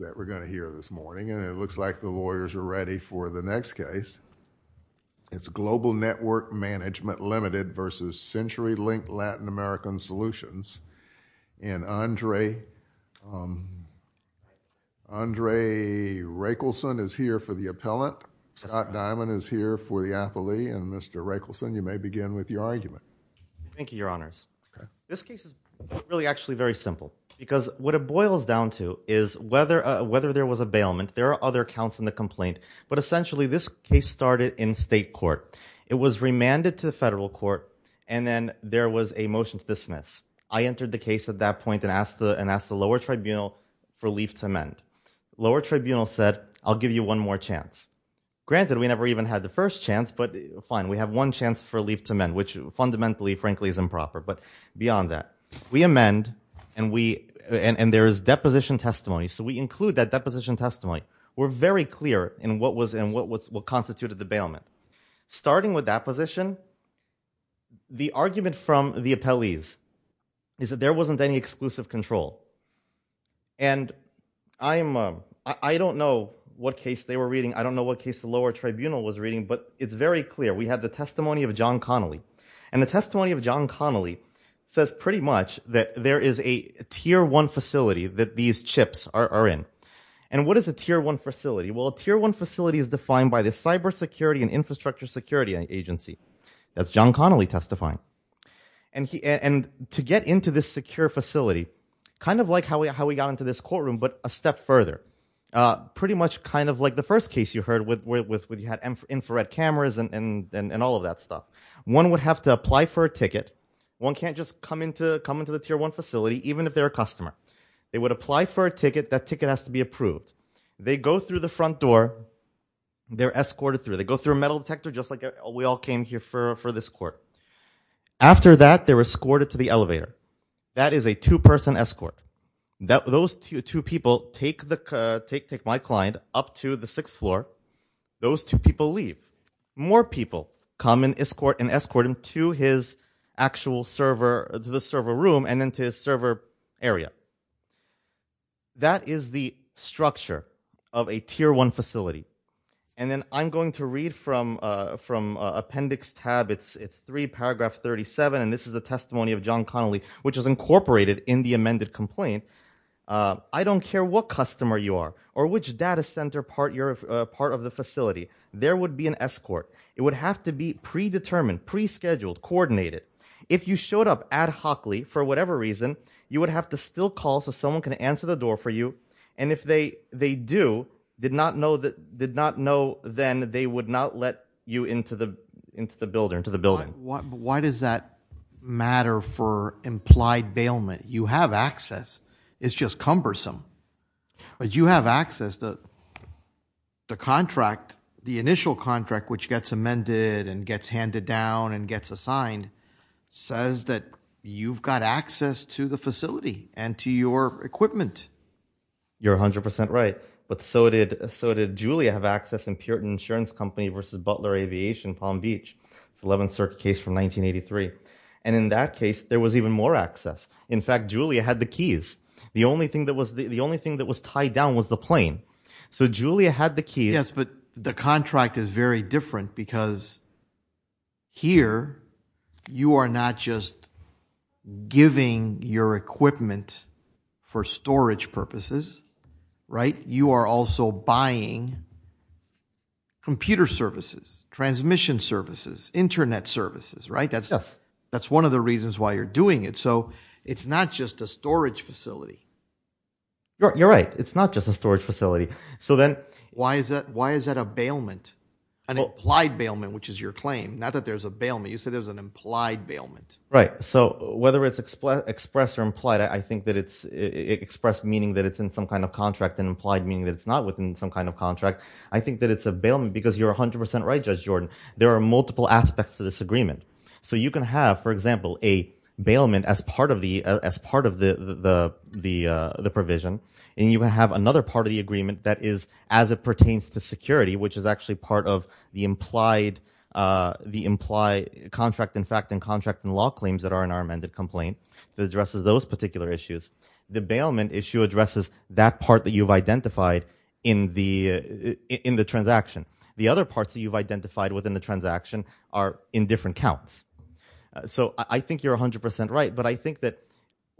that we're going to hear this morning, and it looks like the lawyers are ready for the next case. It's Global Network Management, Ltd. v. CenturyLink Latin American Solutions, and Andre Raichelson is here for the appellant. Scott Diamond is here for the appellee, and Mr. Raichelson, you may begin with your argument. Thank you, Your Honors. This case is really actually very simple, because what it boils down to is whether there was a bailment, there are other counts in the complaint, but essentially this case started in state court. It was remanded to the federal court, and then there was a motion to dismiss. I entered the case at that point and asked the lower tribunal for leave to amend. The lower tribunal said, I'll give you one more chance. Granted, we never even had the first chance, but fine, we have one chance for leave to amend, which fundamentally, frankly, is improper. But beyond that, we amend, and there is deposition testimony, so we include that deposition testimony. We're very clear in what constituted the bailment. Starting with that position, the argument from the appellees is that there wasn't any exclusive control. I don't know what case they were reading, I don't know what case the lower tribunal was reading, but it's very clear. We have the testimony of John Connolly, and the testimony of John Connolly says pretty much that there is a tier one facility that these chips are in. And what is a tier one facility? Well, a tier one facility is defined by the Cybersecurity and Infrastructure Security Agency. That's John Connolly testifying. And to get into this secure facility, kind of like how we got into this courtroom, but a step further, pretty much kind of like the infrared cameras and all of that stuff. One would have to apply for a ticket. One can't just come into the tier one facility, even if they're a customer. They would apply for a ticket, that ticket has to be approved. They go through the front door, they're escorted through. They go through a metal detector, just like we all came here for this court. After that, they're escorted to the elevator. That is a two-person escort. Those two people take my client up to the sixth floor. Those two people leave. More people come and escort him to his actual server, to the server room, and then to his server area. That is the structure of a tier one facility. And then I'm going to read from Appendix Tab, it's three, paragraph 37, and this is the testimony of John Connolly, which is incorporated in the amended complaint. I don't care what customer you are, or which data center part of the facility, there would be an escort. It would have to be predetermined, pre-scheduled, coordinated. If you showed up ad-hocly, for whatever reason, you would have to still call so someone can answer the door for you, and if they do, did not know then, they would not let you into the building. Why does that matter for implied bailment? You have access. It's just cumbersome. But you have access. The contract, the initial contract, which gets amended and gets handed down and gets assigned, says that you've got access to the facility and to your equipment. You're 100% right, but so did Julia have access in Puritan Insurance Company versus Butler Aviation, Palm Beach. It's 11th Circuit case from 1983. And in that case, there was even more access. In fact, Julia had the keys. The only thing that was tied down was the plane. So Julia had the keys. Yes, but the contract is very different because here, you are not just giving your equipment for storage purposes, right? You are also buying computer services. Transmission services, internet services, right? That's one of the reasons why you're doing it. So it's not just a storage facility. You're right. It's not just a storage facility. So then why is that a bailment, an implied bailment, which is your claim? Not that there's a bailment. You said there's an implied bailment. Right. So whether it's expressed or implied, I think that it's expressed meaning that it's in some kind of contract and implied meaning that it's not within some kind of contract. I think that it's a bailment because you're 100% right, Judge Jordan. There are multiple aspects to this agreement. So you can have, for example, a bailment as part of the provision, and you can have another part of the agreement that is as it pertains to security, which is actually part of the implied contract, in fact, and contract and law claims that are in our amended complaint that addresses those particular issues. The bailment issue addresses that part that you've identified in the transaction. The other parts that you've identified within the transaction are in different counts. So I think you're 100% right, but I think that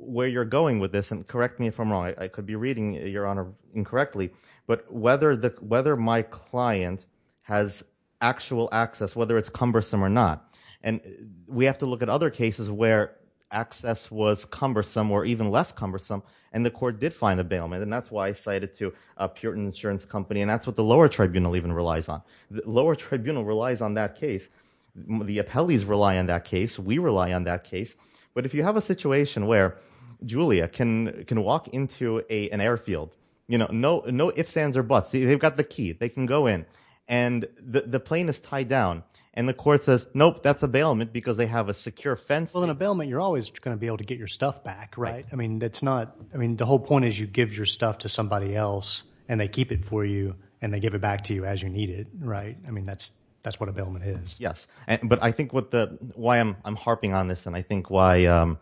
where you're going with this, and correct me if I'm wrong, I could be reading, Your Honor, incorrectly, but whether my client has actual access, whether it's cumbersome or not, and we have to look at other cases where access was cumbersome, and the court did find a bailment, and that's why I cited to a Puritan insurance company, and that's what the lower tribunal even relies on. The lower tribunal relies on that case. The appellees rely on that case. We rely on that case. But if you have a situation where Julia can walk into an airfield, no ifs, ands, or buts. They've got the key. They can go in, and the plane is tied down, and the court says, Nope, that's a bailment because they have a secure fencing. In a bailment, you're always going to be able to get your stuff back, right? I mean, that's not, I mean, the whole point is you give your stuff to somebody else, and they keep it for you, and they give it back to you as you need it, right? I mean, that's what a bailment is. Yes, but I think why I'm harping on this, and I think why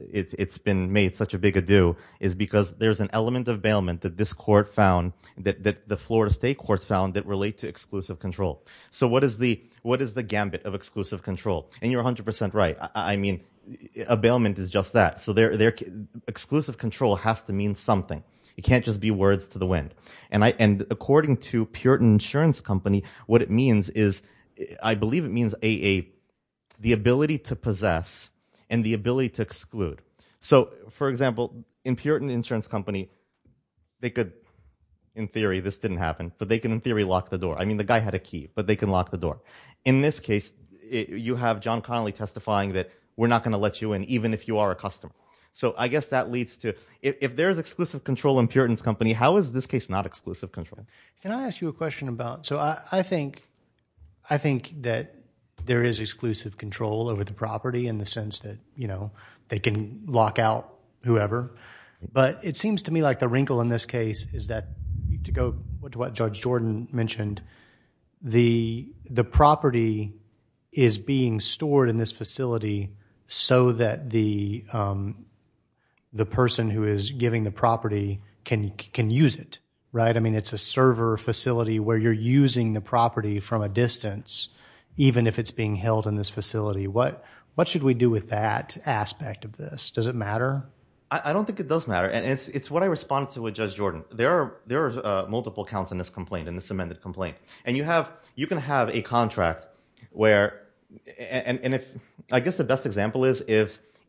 it's been made such a big ado, is because there's an element of bailment that this court found, that the Florida State Court found, that relate to exclusive control. So what is the gambit of exclusive control? And you're 100% right. I mean, a bailment is just that. So their exclusive control has to mean something. It can't just be words to the wind. And according to Puritan Insurance Company, what it means is, I believe it means the ability to possess, and the ability to exclude. So for example, in Puritan Insurance Company, they could, in theory, this didn't happen, but they can in theory lock the door. I mean, the guy had a key, but they can lock the door. In this case, you have John Connolly testifying that we're not going to let you in, even if you are a customer. So I guess that leads to, if there's exclusive control in Puritan's company, how is this case not exclusive control? Can I ask you a question about, so I think, I think that there is exclusive control over the property in the sense that, you know, they can lock out whoever. But it seems to me like the wrinkle in this case is that, to go to what Judge Jordan mentioned, the property is being stored in this facility so that the person who is giving the property can use it, right? I mean, it's a server facility where you're using the property from a distance, even if it's being held in this facility. What should we do with that aspect of this? Does it matter? I don't think it does matter. And it's what I responded to with Judge Jordan. There are multiple counts in this complaint, in this amended complaint. And you can have a contract where, and I guess the best example is,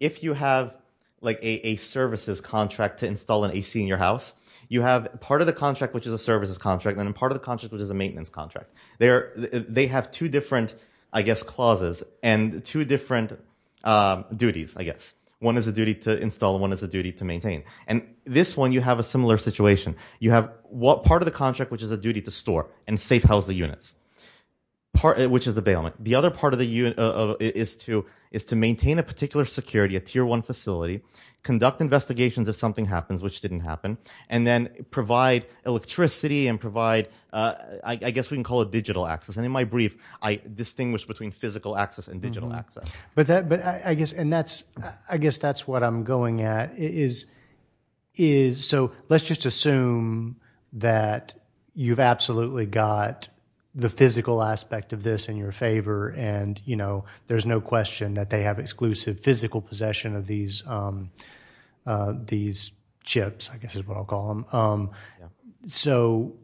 if you have a services contract to install an AC in your house, you have part of the contract, which is a services contract, and then part of the contract, which is a maintenance contract. They have two different, I guess, clauses and two different duties, I guess. One is a duty to install, one is a duty to maintain. And this one, you have a similar situation. You have part of the contract, which is a duty to store and safe house the units, which is the bailment. The other part of the unit is to maintain a particular security, a tier one facility, conduct investigations if something happens, which didn't happen, and then provide electricity and provide, I guess we can call it digital access. And in my brief, I distinguish between physical access and digital access. But I guess that's what I'm going at. So let's just assume that you've absolutely got the physical aspect of this in your favor, and there's no question that they have exclusive physical possession of these chips, I guess is what I'll call them. So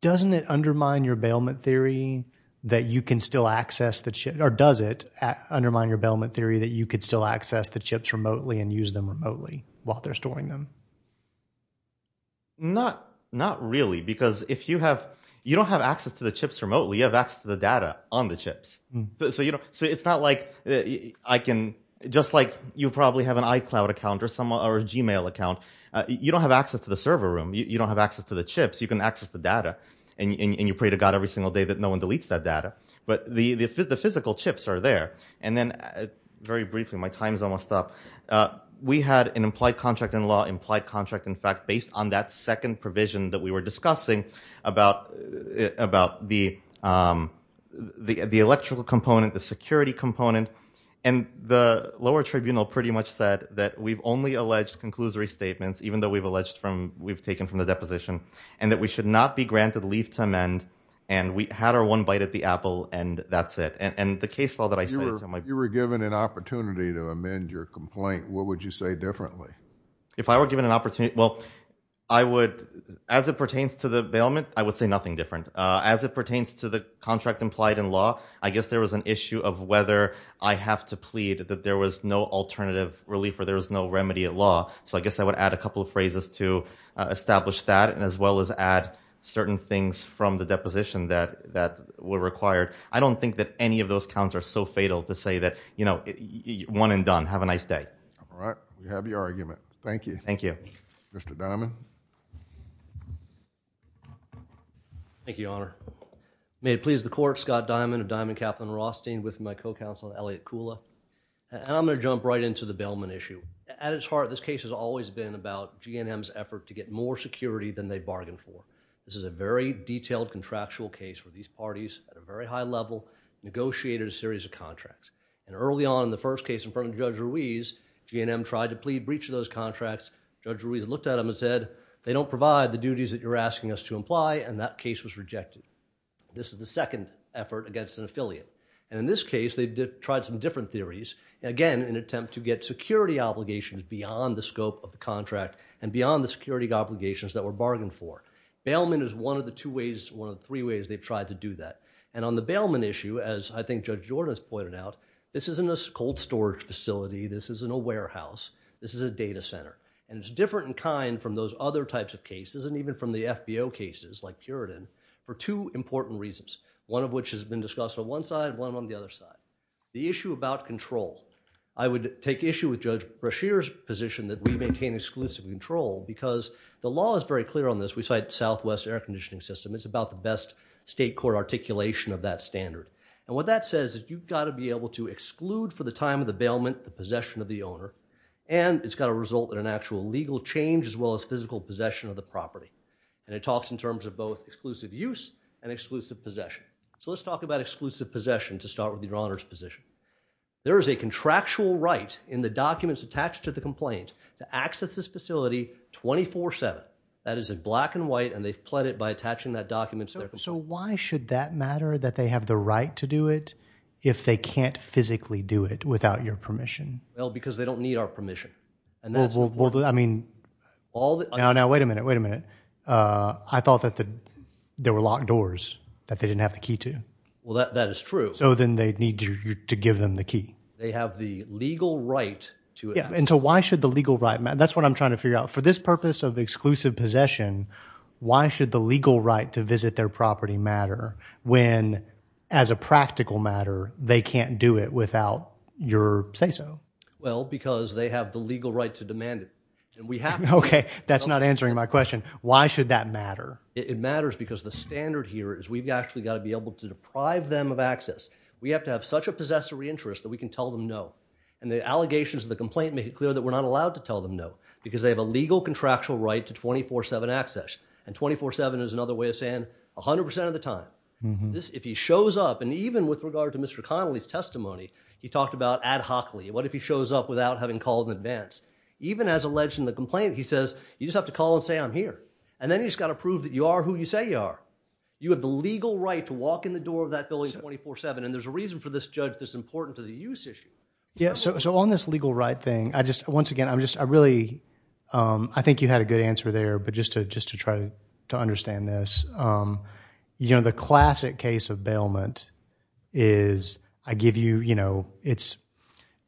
doesn't it undermine your bailment theory that you can still access the chip, or does it undermine your bailment theory that you could still access the chips remotely and use them remotely while they're storing them? Not really, because if you have, you don't have access to the chips remotely, you have access to the data on the chips. So it's not like I can, just like you probably have an iCloud account or a Gmail account, you don't have access to the server room, you don't have access to the chips, you can access the data, and you pray to God every single day that no one deletes that data. But the physical chips are there. And then, very briefly, my time is almost up. We had an implied contract in law, implied contract, in fact, based on that second provision that we were discussing about the electrical component, the security component, and the lower tribunal pretty much said that we've only alleged conclusory statements, even though we've alleged from, we've taken from the deposition, and that we should not be granted leave to amend, and we had our one bite at the apple, and that's it. And the case law that I said... You were given an opportunity to amend your complaint. What would you say differently? If I were given an opportunity, well, I would, as it pertains to the bailment, I would say nothing different. As it pertains to the contract implied in law, I guess there was an issue of whether I have to plead that there was no at law. So I guess I would add a couple of phrases to establish that, and as well as add certain things from the deposition that were required. I don't think that any of those counts are so fatal to say that, you know, one and done. Have a nice day. All right. We have your argument. Thank you. Thank you. Mr. Diamond. Thank you, Your Honor. May it please the court, Scott Diamond of Diamond Kaplan Rothstein, with my co-counsel, Elliot Kula. And I'm going to jump right into the bailment issue. At its heart, this case has always been about GNM's effort to get more security than they bargained for. This is a very detailed contractual case where these parties, at a very high level, negotiated a series of contracts. And early on in the first case in front of Judge Ruiz, GNM tried to plead breach of those contracts. Judge Ruiz looked at them and said, they don't provide the duties that you're asking us to imply, and that case was rejected. This is the second effort against an affiliate. And in this case, they tried some different theories, again, in an attempt to get security obligations beyond the scope of the contract and beyond the security obligations that were bargained for. Bailment is one of the two ways, one of the three ways they've tried to do that. And on the bailment issue, as I think Judge Jordan has pointed out, this isn't a cold storage facility, this isn't a warehouse, this is a data center. And it's different in kind from those other types of cases, and even from the FBO cases like Puritan, for two important reasons, one of which has been discussed on one side, one on the other side. The issue about control. I would take issue with Judge Brashear's position that we maintain exclusive control, because the law is very clear on this, we cite Southwest Air Conditioning System, it's about the best state court articulation of that standard. And what that says is you've got to be able to exclude for the time of the bailment the possession of the owner, and it's got to result in an actual legal change as well as physical possession of the property. And it talks in terms of both exclusive use and exclusive possession. So let's talk about the owner's position. There is a contractual right in the documents attached to the complaint to access this facility 24-7. That is in black and white, and they've pled it by attaching that document. So why should that matter, that they have the right to do it, if they can't physically do it without your permission? Well, because they don't need our permission. And that's... I mean, now wait a minute, wait a minute. I thought that there were locked doors that they didn't have the key to. Well, that is true. So then they need to give them the key. They have the legal right to it. Yeah, and so why should the legal right matter? That's what I'm trying to figure out. For this purpose of exclusive possession, why should the legal right to visit their property matter when, as a practical matter, they can't do it without your say-so? Well, because they have the legal right to demand it. Okay, that's not answering my question. Why should that matter? It matters because the standard here is we've actually got to be able to deprive them of access. We have to have such a possessory interest that we can tell them no. And the allegations of the complaint make it clear that we're not allowed to tell them no, because they have a legal contractual right to 24-7 access. And 24-7 is another way of saying 100% of the time. If he shows up, and even with regard to Mr. Connolly's testimony, he talked about ad hocly. What if he shows up without having called in advance? Even as alleged in the complaint, he says, you just have to call and say I'm here. And then you've just got to prove that you are who you say you are. You have the legal right to walk in the door of that building 24-7. And there's a reason for this judge that's important to the use issue. Yeah, so on this legal right thing, I just, once again, I'm just, I really, I think you had a good answer there. But just to try to understand this, you know, the classic case of bailment is I give you, you know, it's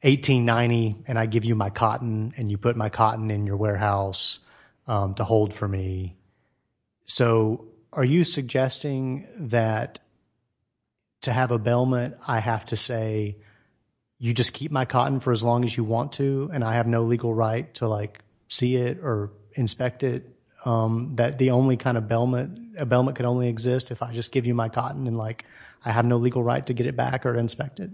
$18.90, and I give you my cotton, and you put my cotton in your warehouse to hold for me. So are you suggesting that to have a bailment, I have to say, you just keep my cotton for as long as you want to, and I have no legal right to like see it or inspect it? That the only kind of bailment, a bailment can only exist if I just give you my cotton and like I have no legal right to get it back or inspect it?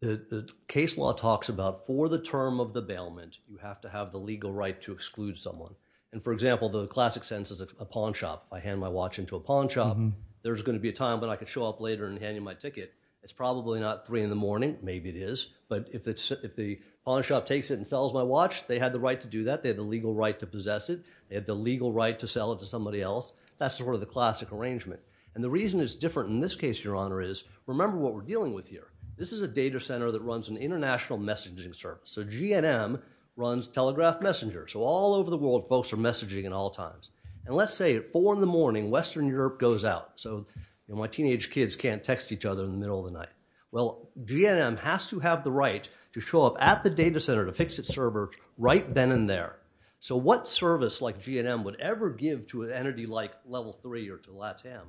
The case law talks about for the term of the bailment, you have to have the legal right to exclude someone. And for example, the classic sentence is a pawn shop. I hand my watch into a pawn shop. There's going to be a time when I could show up later and hand you my ticket. It's probably not three in the morning. Maybe it is. But if it's, if the pawn shop takes it and sells my watch, they had the right to do that. They have the legal right to possess it. They have the legal right to sell it to somebody else. That's sort of the classic arrangement. And the reason it's different in this case, Your Honor, is remember what we're dealing with here. This is a data center that runs an international messaging service. So GNM runs Telegraph Messenger. So all over the world, folks are messaging at all times. And let's say at four in the morning, Western Europe goes out. So my teenage kids can't text each other in the middle of the night. Well, GNM has to have the right to show up at the data center to fix its servers right then and there. So what service like GNM would ever give to an entity like Level 3 or to LATAM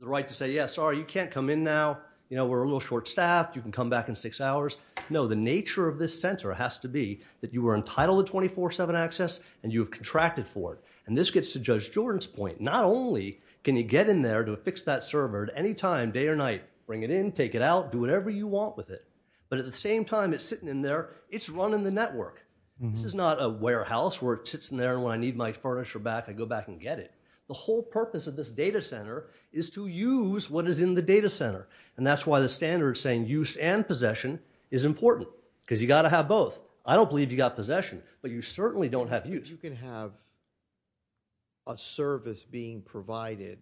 the right to say, yeah, sorry, you can't come in now. You know, we're a little short-staffed. You can come back in six hours. No, the nature of this center has to be that you were entitled to 24-7 access and you have contracted for it. And this gets to Judge Jordan's point. Not only can you get in there to fix that server at any time, day or night, bring it in, take it out, do whatever you want with it. But at the same time it's sitting in there, it's running the network. This is not a warehouse where it sits in there and when I need my furniture back, I go back and get it. The whole purpose of this data center is to use what is in the data center. And that's why the standard saying use and possession is important because you got to have both. I don't believe you got possession, but you certainly don't have use. You can have a service being provided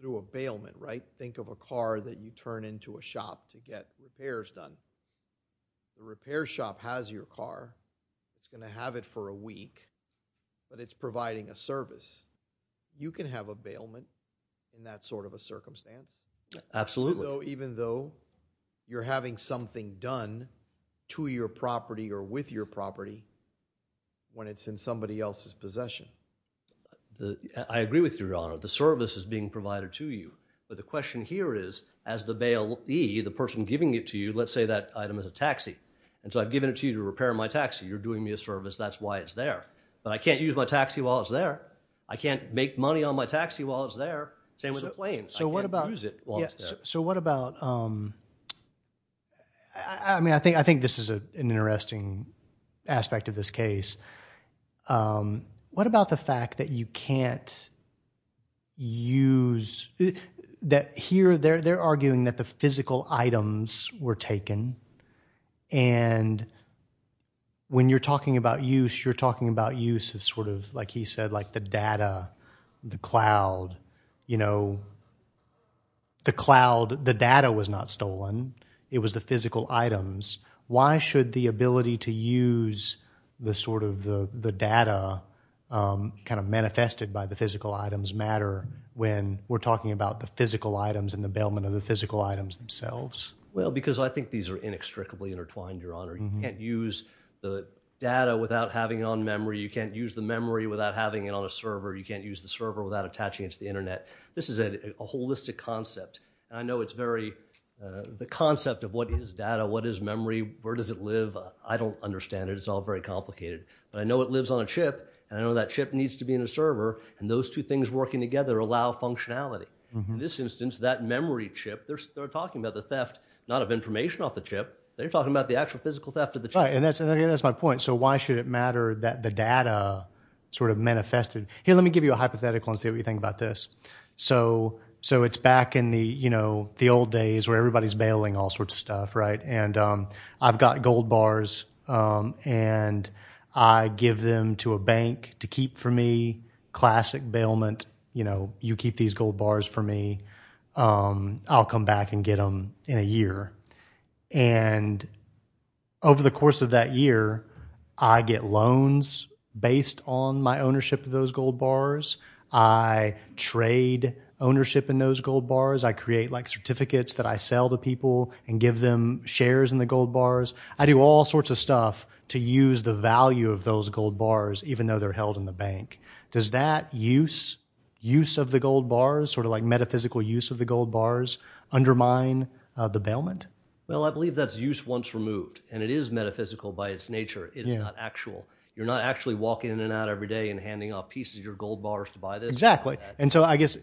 through a bailment, right? Think of a car that you turn into a shop to get repairs done. The repair shop has your car. It's going to have it for a week, but it's providing a service. You can have a bailment in that sort of a circumstance. Absolutely. Even though you're having something done to your property or with your property when it's in somebody else's possession. I agree with you, your honor. The service is being provided to you. But the question here is, as the bailee, the person giving it to you, let's say that item is a taxi. And so I've given it to you to repair my taxi. You're doing me a service, that's why it's there. But I can't use my taxi while it's there. I can't make money on my taxi while it's there. Same with a plane. So what about, so what about, I mean, I think this is an interesting aspect of this case. What about the fact that you can't use, that here they're arguing that the physical items were taken. And when you're talking about use, you're talking about use of sort of, like he said, like the data, the cloud, you know, the cloud, the data was not stolen. It was the physical items. Why should the ability to use the sort of the data kind of manifested by the physical items matter when we're talking about the physical items and the bailment of the physical items themselves? Well, because I think these are inextricably intertwined, your honor. You can't use the data without having it on memory. You can't use the memory without having it on a server. You can't use the server without attaching it to the internet. This is a holistic concept. And I know it's very, the concept of what is data, what is memory, where does it live? I don't understand it. It's all very complicated. But I know it lives on a chip, and I know that chip needs to be in a server. And those two things working together allow functionality. In this instance, that memory chip, they're talking about the theft, not of information off the chip. They're talking about the actual physical theft of the chip. And that's my point. So why should it matter that the data sort of manifested? Here, let me give you a hypothetical and see what you think about this. So it's back in the old days where everybody's bailing all sorts of stuff, right? And I've got gold bars, and I give them to a bank to keep for me. Classic bailment. You keep these gold bars for me. I'll come back and get them in a year. And over the course of that year, I get loans based on my ownership of those gold bars. I trade ownership in those gold bars. I create like certificates that I sell to people and give them shares in the gold bars. I do all sorts of stuff to use the value of those gold bars, even though they're held in the bank. Does that use of the gold bars, sort of like metaphysical use of the gold bars, undermine the bailment? Well, I believe that's use once removed. And it is metaphysical by its nature. It's not actual. You're not actually walking in and out every day and handing off pieces of your gold bars to buy this. Exactly. And so I guess,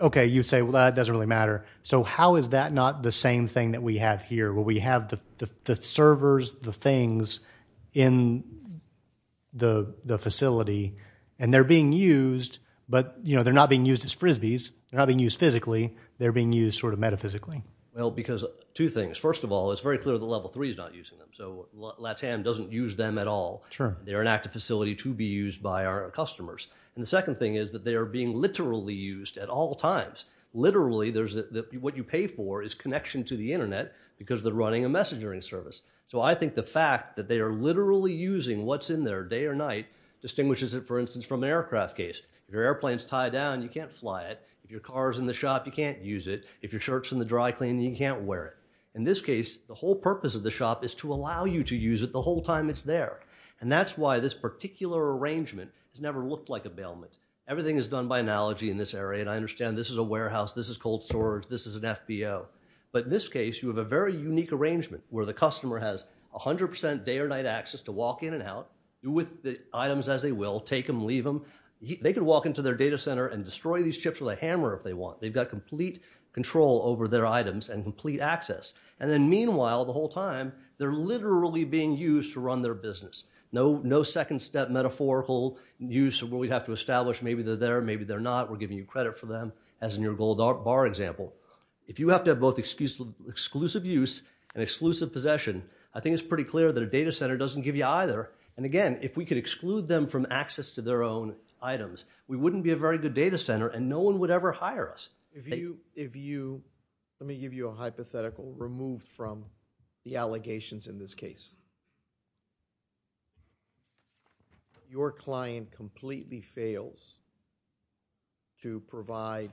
okay, you say, well, that doesn't really matter. So how is that not the same thing that we have here, where we have the servers, the things in the facility, and they're being used, but they're not being used as Frisbees. They're not being used physically. They're being used sort of metaphysically. Well, because two things. First of all, it's very clear that level three is not using them. So LATAM doesn't use them at all. They're an active facility to be used by our customers. And the second thing is that they are being literally used at all times. Literally, what you pay for is connection to the internet because they're running a messaging service. So I think the fact that they are literally using what's in there day or night distinguishes it, for instance, from an aircraft case. If your airplane's tied down, you can't fly it. If your car's in the shop, you can't use it. If your shirt's in the dry clean, you can't wear it. In this case, the whole purpose of the shop is to allow you to use it the whole time it's there. And that's why this particular arrangement has never looked like a bailment. Everything is done by analogy in this area. And I understand this is a warehouse. This is cold storage. This is an FBO. But in this case, you have a very unique arrangement where the customer has 100% day or night access to walk in and out, do with the items as they will, take them, leave them. They can walk into their data center and destroy these chips with a hammer if they want. They've got complete control over their items and complete access. And then meanwhile, the whole time, they're literally being used to run their business. No second step metaphorical use of what we'd have to establish. Maybe they're there, maybe they're not. We're giving you credit for them, as in your gold bar example. If you have to have both exclusive use and exclusive possession, I think it's pretty clear that a data center doesn't give you either. And again, if we could exclude them from access to their own items, we wouldn't be a very good data center and no one would ever hire us. Let me give you a hypothetical removed from the allegations in this case. Your client completely fails to provide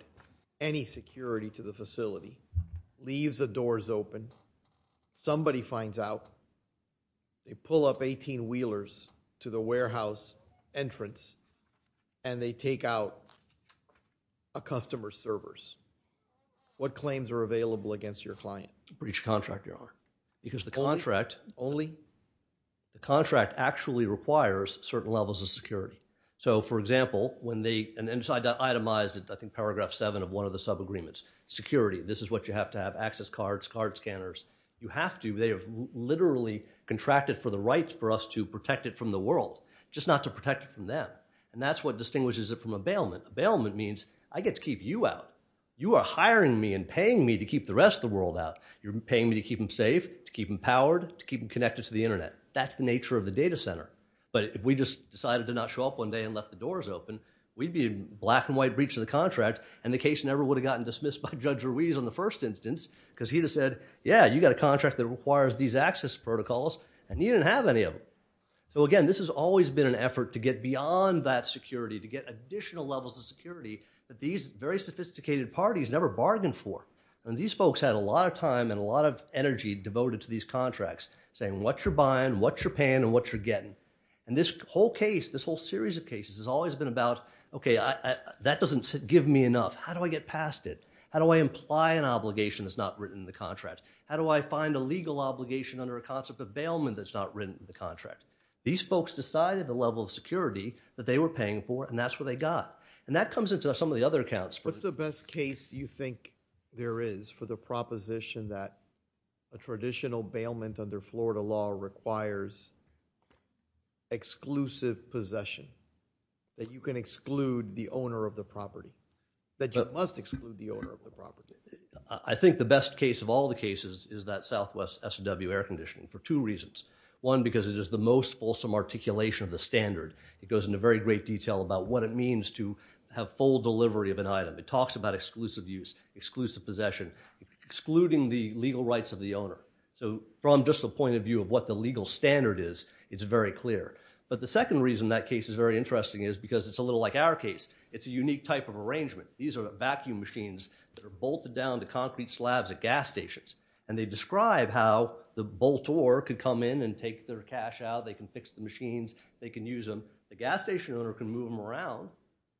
any security to the facility, leaves the doors open, somebody finds out, they pull up 18 wheelers to the warehouse entrance and they take out a customer's servers. What claims are available against your client? For each contract you are. Because the contract actually requires certain levels of security. So for example, when they decide to itemize it, I think paragraph 7 of one of the sub-agreements, security, this is what you have to have, access cards, card scanners. You have to, they have literally contracted for the rights for us to protect it from the world, just not to protect it from them. And that's what bailment means. I get to keep you out. You are hiring me and paying me to keep the rest of the world out. You're paying me to keep them safe, to keep them powered, to keep them connected to the internet. That's the nature of the data center. But if we just decided to not show up one day and left the doors open, we'd be a black and white breach of the contract and the case never would have gotten dismissed by Judge Ruiz on the first instance because he would have said, yeah, you got a contract that requires these access protocols and he didn't have any of them. So again, this has always been an effort to get beyond that security, to get additional levels of security that these very sophisticated parties never bargained for. And these folks had a lot of time and a lot of energy devoted to these contracts, saying what you're buying, what you're paying, and what you're getting. And this whole case, this whole series of cases has always been about, okay, that doesn't give me enough. How do I get past it? How do I imply an obligation that's not written in the contract? How do I find a legal obligation under a concept of bailment that's not written in the contract? These folks decided the level of security that they were paying for and that's what they got. And that comes into some of the other accounts. What's the best case you think there is for the proposition that a traditional bailment under Florida law requires exclusive possession? That you can exclude the owner of the property? That you must exclude the owner of the property? I think the best case of all the cases is that Southwest S&W air conditioning for two reasons. One, because it is the most fulsome articulation of the standard. It goes into very great detail about what it means to have full delivery of an item. It talks about exclusive use, exclusive possession, excluding the legal rights of the owner. So from just the point of view of what the legal standard is, it's very clear. But the second reason that case is very interesting is because it's a little like our case. It's a unique type of arrangement. These are vacuum machines that are bolted down to concrete slabs at gas stations. And they describe how the bolt could come in and take their cash out. They can fix the machines. They can use them. The gas station owner can move them around.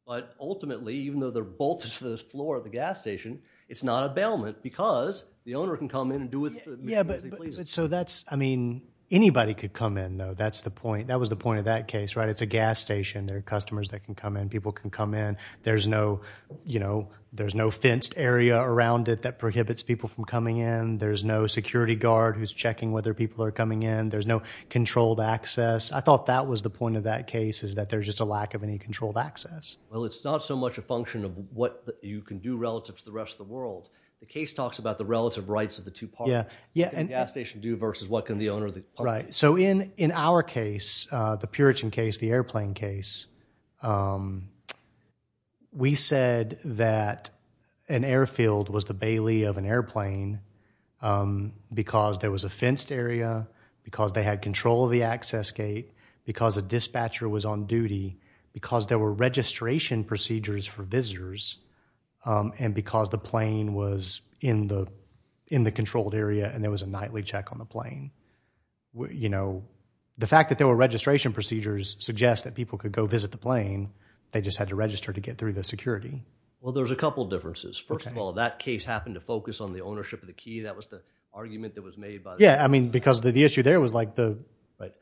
But ultimately, even though they're bolted to the floor of the gas station, it's not a bailment because the owner can come in and do what they please. So that's, I mean, anybody could come in though. That's the point. That was the point of that case, right? It's a gas station. There are customers that can come in. People can come in. There's no fenced area around it that prohibits people from coming in. There's no security guard who's coming in. There's no controlled access. I thought that was the point of that case, is that there's just a lack of any controlled access. Well, it's not so much a function of what you can do relative to the rest of the world. The case talks about the relative rights of the two parties. What can the gas station do versus what can the owner of the public do? Right. So in our case, the Puritan case, the airplane case, we said that an airfield was the bailey of an airfield. Well, there's a couple of differences. First of all, that case happened to focus on the issue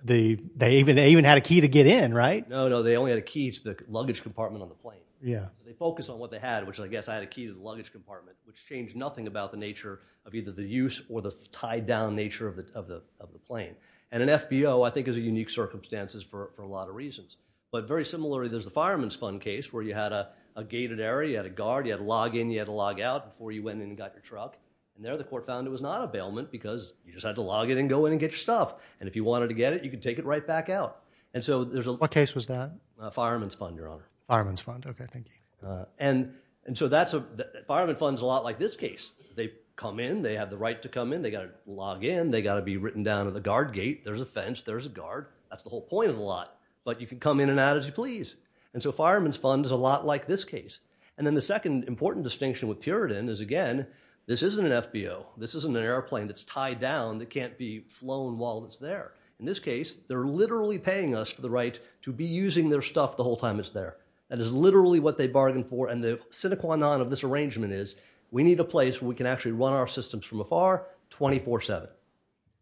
there. They even had a key to get in, right? No, no. They only had a key to the luggage compartment on the plane. They focused on what they had, which I guess I had a key to the luggage compartment, which changed nothing about the nature of either the use or the tied down nature of the plane. And an FBO, I think, is a unique circumstances for a lot of reasons. But very similarly, there's the Fireman's Fund case where you had a gated area. You had a guard. You had to log in. You had to log out before you went in and got your truck. And there, the court found it was not a bailment because you just had to log in and go in and get your stuff. And if you wanted to get it, you could take it right back out. And so there's a- What case was that? Fireman's Fund, Your Honor. Fireman's Fund. Okay. Thank you. And so Fireman's Fund is a lot like this case. They come in. They have the right to come in. They got to log in. They got to be written down at the guard gate. There's a fence. There's a guard. That's the whole point of the lot. But you can come in and out as you please. And so Fireman's Fund is a lot like this case. And then the second important distinction with Puritan is, again, this isn't an FBO. This isn't an airplane that's tied down that can't be flown while it's there. In this case, they're literally paying us the right to be using their stuff the whole time it's there. That is literally what they bargained for. And the sine qua non of this arrangement is, we need a place where we can actually run our systems from afar 24-7.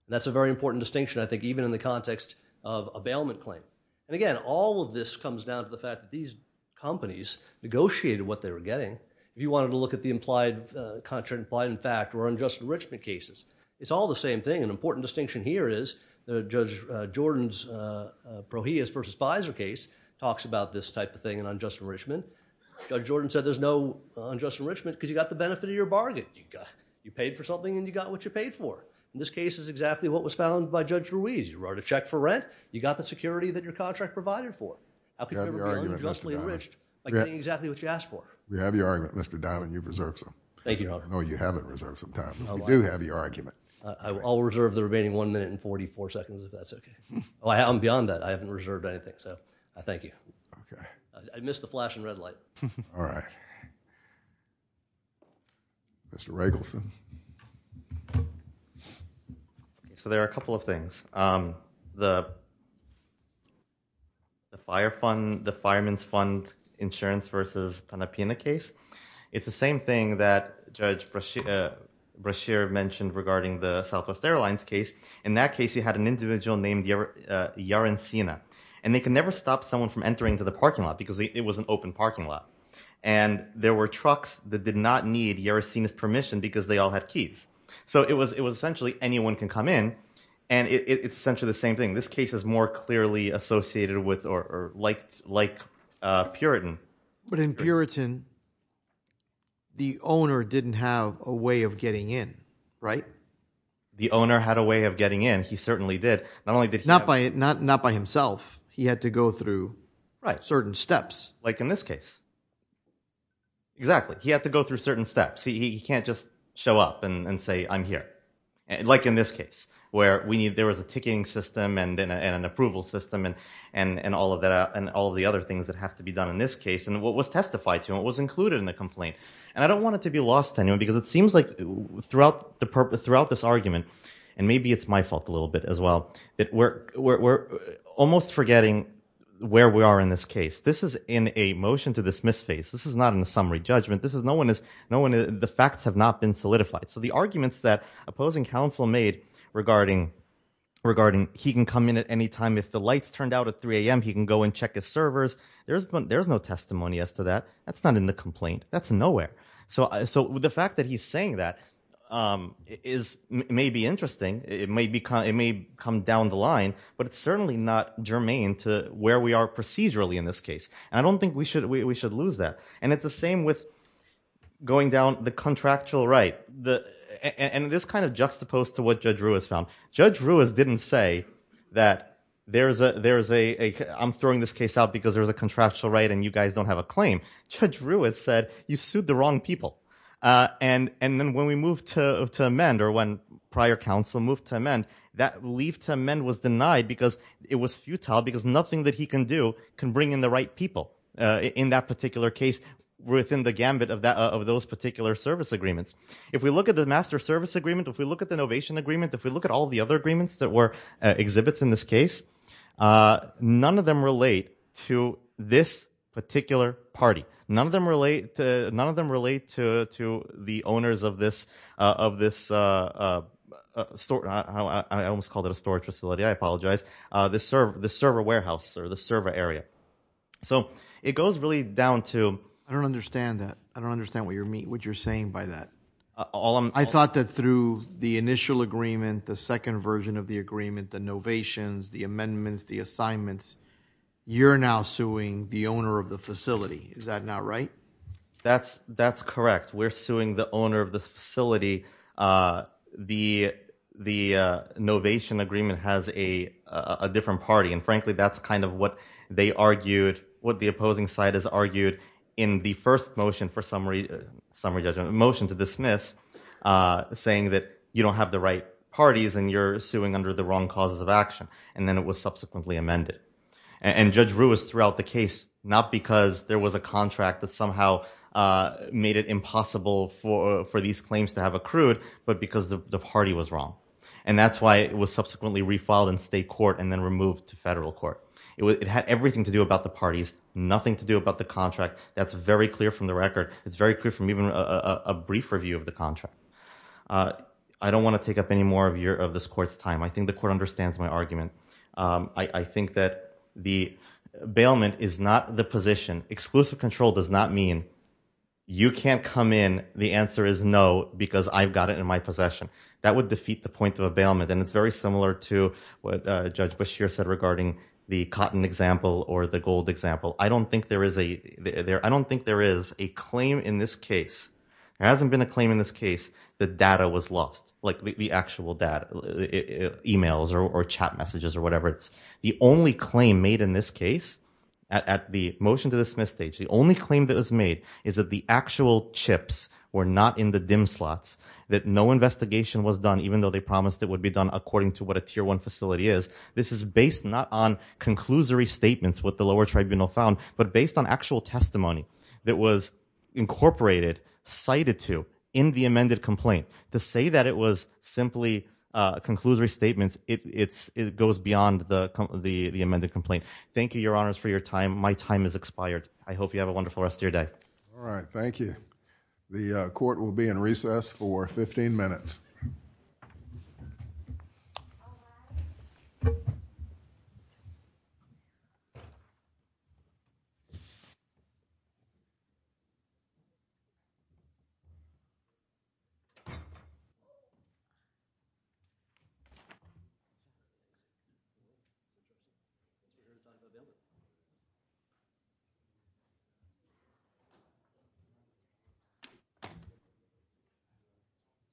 That's a very important distinction, I think, even in the context of a bailment claim. And again, all of this comes down to the fact that these companies negotiated what they were getting. If you wanted to look at the implied contract, implied in fact, or unjust enrichment cases, it's all the same thing. An important distinction here is Judge Jordan's Prohius v. Fizer case talks about this type of thing and unjust enrichment. Judge Jordan said there's no unjust enrichment because you got the benefit of your bargain. You paid for something and you got what you paid for. In this case, it's exactly what was found by Judge Ruiz. You wrote a check for rent. You got the security that your contract provided for. How could you ever bail out unjustly enriched by getting what you asked for? We have your argument, Mr. Diamond. You've reserved some time. Thank you, Your Honor. No, you haven't reserved some time. We do have your argument. I'll reserve the remaining one minute and 44 seconds, if that's okay. Oh, I'm beyond that. I haven't reserved anything, so I thank you. I missed the flashing red light. Mr. Ragelson. So there are a couple of things. The fire fund, the Fireman's Fund Insurance v. Panepina case, it's the same thing that Judge Brashear mentioned regarding the Southwest Airlines case. In that case, you had an individual named Yarracena, and they can never stop someone from entering into the parking lot because it was an open parking lot. And there were trucks that did not need Yarracena's permission because they all had keys. So it was essentially anyone can come in, and it's essentially the same thing. This case is more clearly associated with or like Puritan. But in Puritan, the owner didn't have a way of getting in, right? The owner had a way of getting in. He certainly did. Not only did he- Not by himself. He had to go through certain steps. Like in this case. Exactly. He had to go through certain steps. He can't just show up and say, I'm here. Like in this case, where there was a ticketing system and an approval system and all of the other things that have to be done in this case. And what was testified to and what was included in the complaint. And I don't want it to be lost to anyone because it seems like throughout this argument, and maybe it's my fault a little bit as well, that we're almost forgetting where we are in this case. This is in a motion to dismiss face. This is not in a summary judgment. The facts have not been solidified. So the arguments that opposing counsel made regarding he can come in at any time if the lights turned out at 3 a.m., he can go and check his servers. There's no testimony as to that. That's not in the complaint. That's nowhere. So the fact that he's saying that may be interesting. It may come down the line, but it's certainly not germane to where we are procedurally in this case. And I don't think we should lose that. And it's the same with going down the contractual right. And this kind of juxtaposed to what Judge Ruiz found. Judge Ruiz didn't say that I'm throwing this case out because there was a contractual right and you guys don't have a claim. Judge Ruiz said, you sued the wrong people. And then when we moved to amend or when prior counsel moved to amend, that leave to amend was denied because it was futile because nothing that he can do can bring in the right people in that particular case within the gambit of those particular service agreements. If we look at the master service agreement, if we look at the innovation agreement, if we look at all the other agreements that were exhibits in this case, none of them relate to this particular party. None of them relate to the owners of this store. I almost called it a storage facility. I apologize. The server warehouse or the server area. So it goes really down to... I don't understand that. I don't understand what you're saying by that. I thought that through the initial agreement, the second version of the agreement, the innovations, the amendments, the assignments, you're now suing the owner of the facility. Is that not right? That's correct. We're suing the owner of the facility. The innovation agreement has a different party. And frankly, that's kind of what they argued, what the opposing side has argued in the first motion for summary judgment, motion to dismiss, saying that you don't have the right to do that. And then it was subsequently amended. And Judge Rue was throughout the case, not because there was a contract that somehow made it impossible for these claims to have accrued, but because the party was wrong. And that's why it was subsequently refiled in state court and then removed to federal court. It had everything to do about the parties, nothing to do about the contract. That's very clear from the record. It's very clear from even a brief review of the contract. I don't want to take up any more of this court's time. I think the court understands my argument. I think that the bailment is not the position. Exclusive control does not mean you can't come in. The answer is no, because I've got it in my possession. That would defeat the point of a bailment. And it's very similar to what Judge Beshear said regarding the cotton example or the gold example. I don't think there is a claim in this case. There hasn't been a claim or whatever. The only claim made in this case at the motion to dismiss stage, the only claim that was made is that the actual chips were not in the dim slots, that no investigation was done, even though they promised it would be done according to what a tier one facility is. This is based not on conclusory statements with the lower tribunal found, but based on actual testimony that was incorporated, cited to in the amended complaint. To say that it was simply conclusory statements, it goes beyond the amended complaint. Thank you, Your Honors, for your time. My time has expired. I hope you have a wonderful rest of your day. All right. Thank you. The court will be in recess for 15 minutes. Thank you.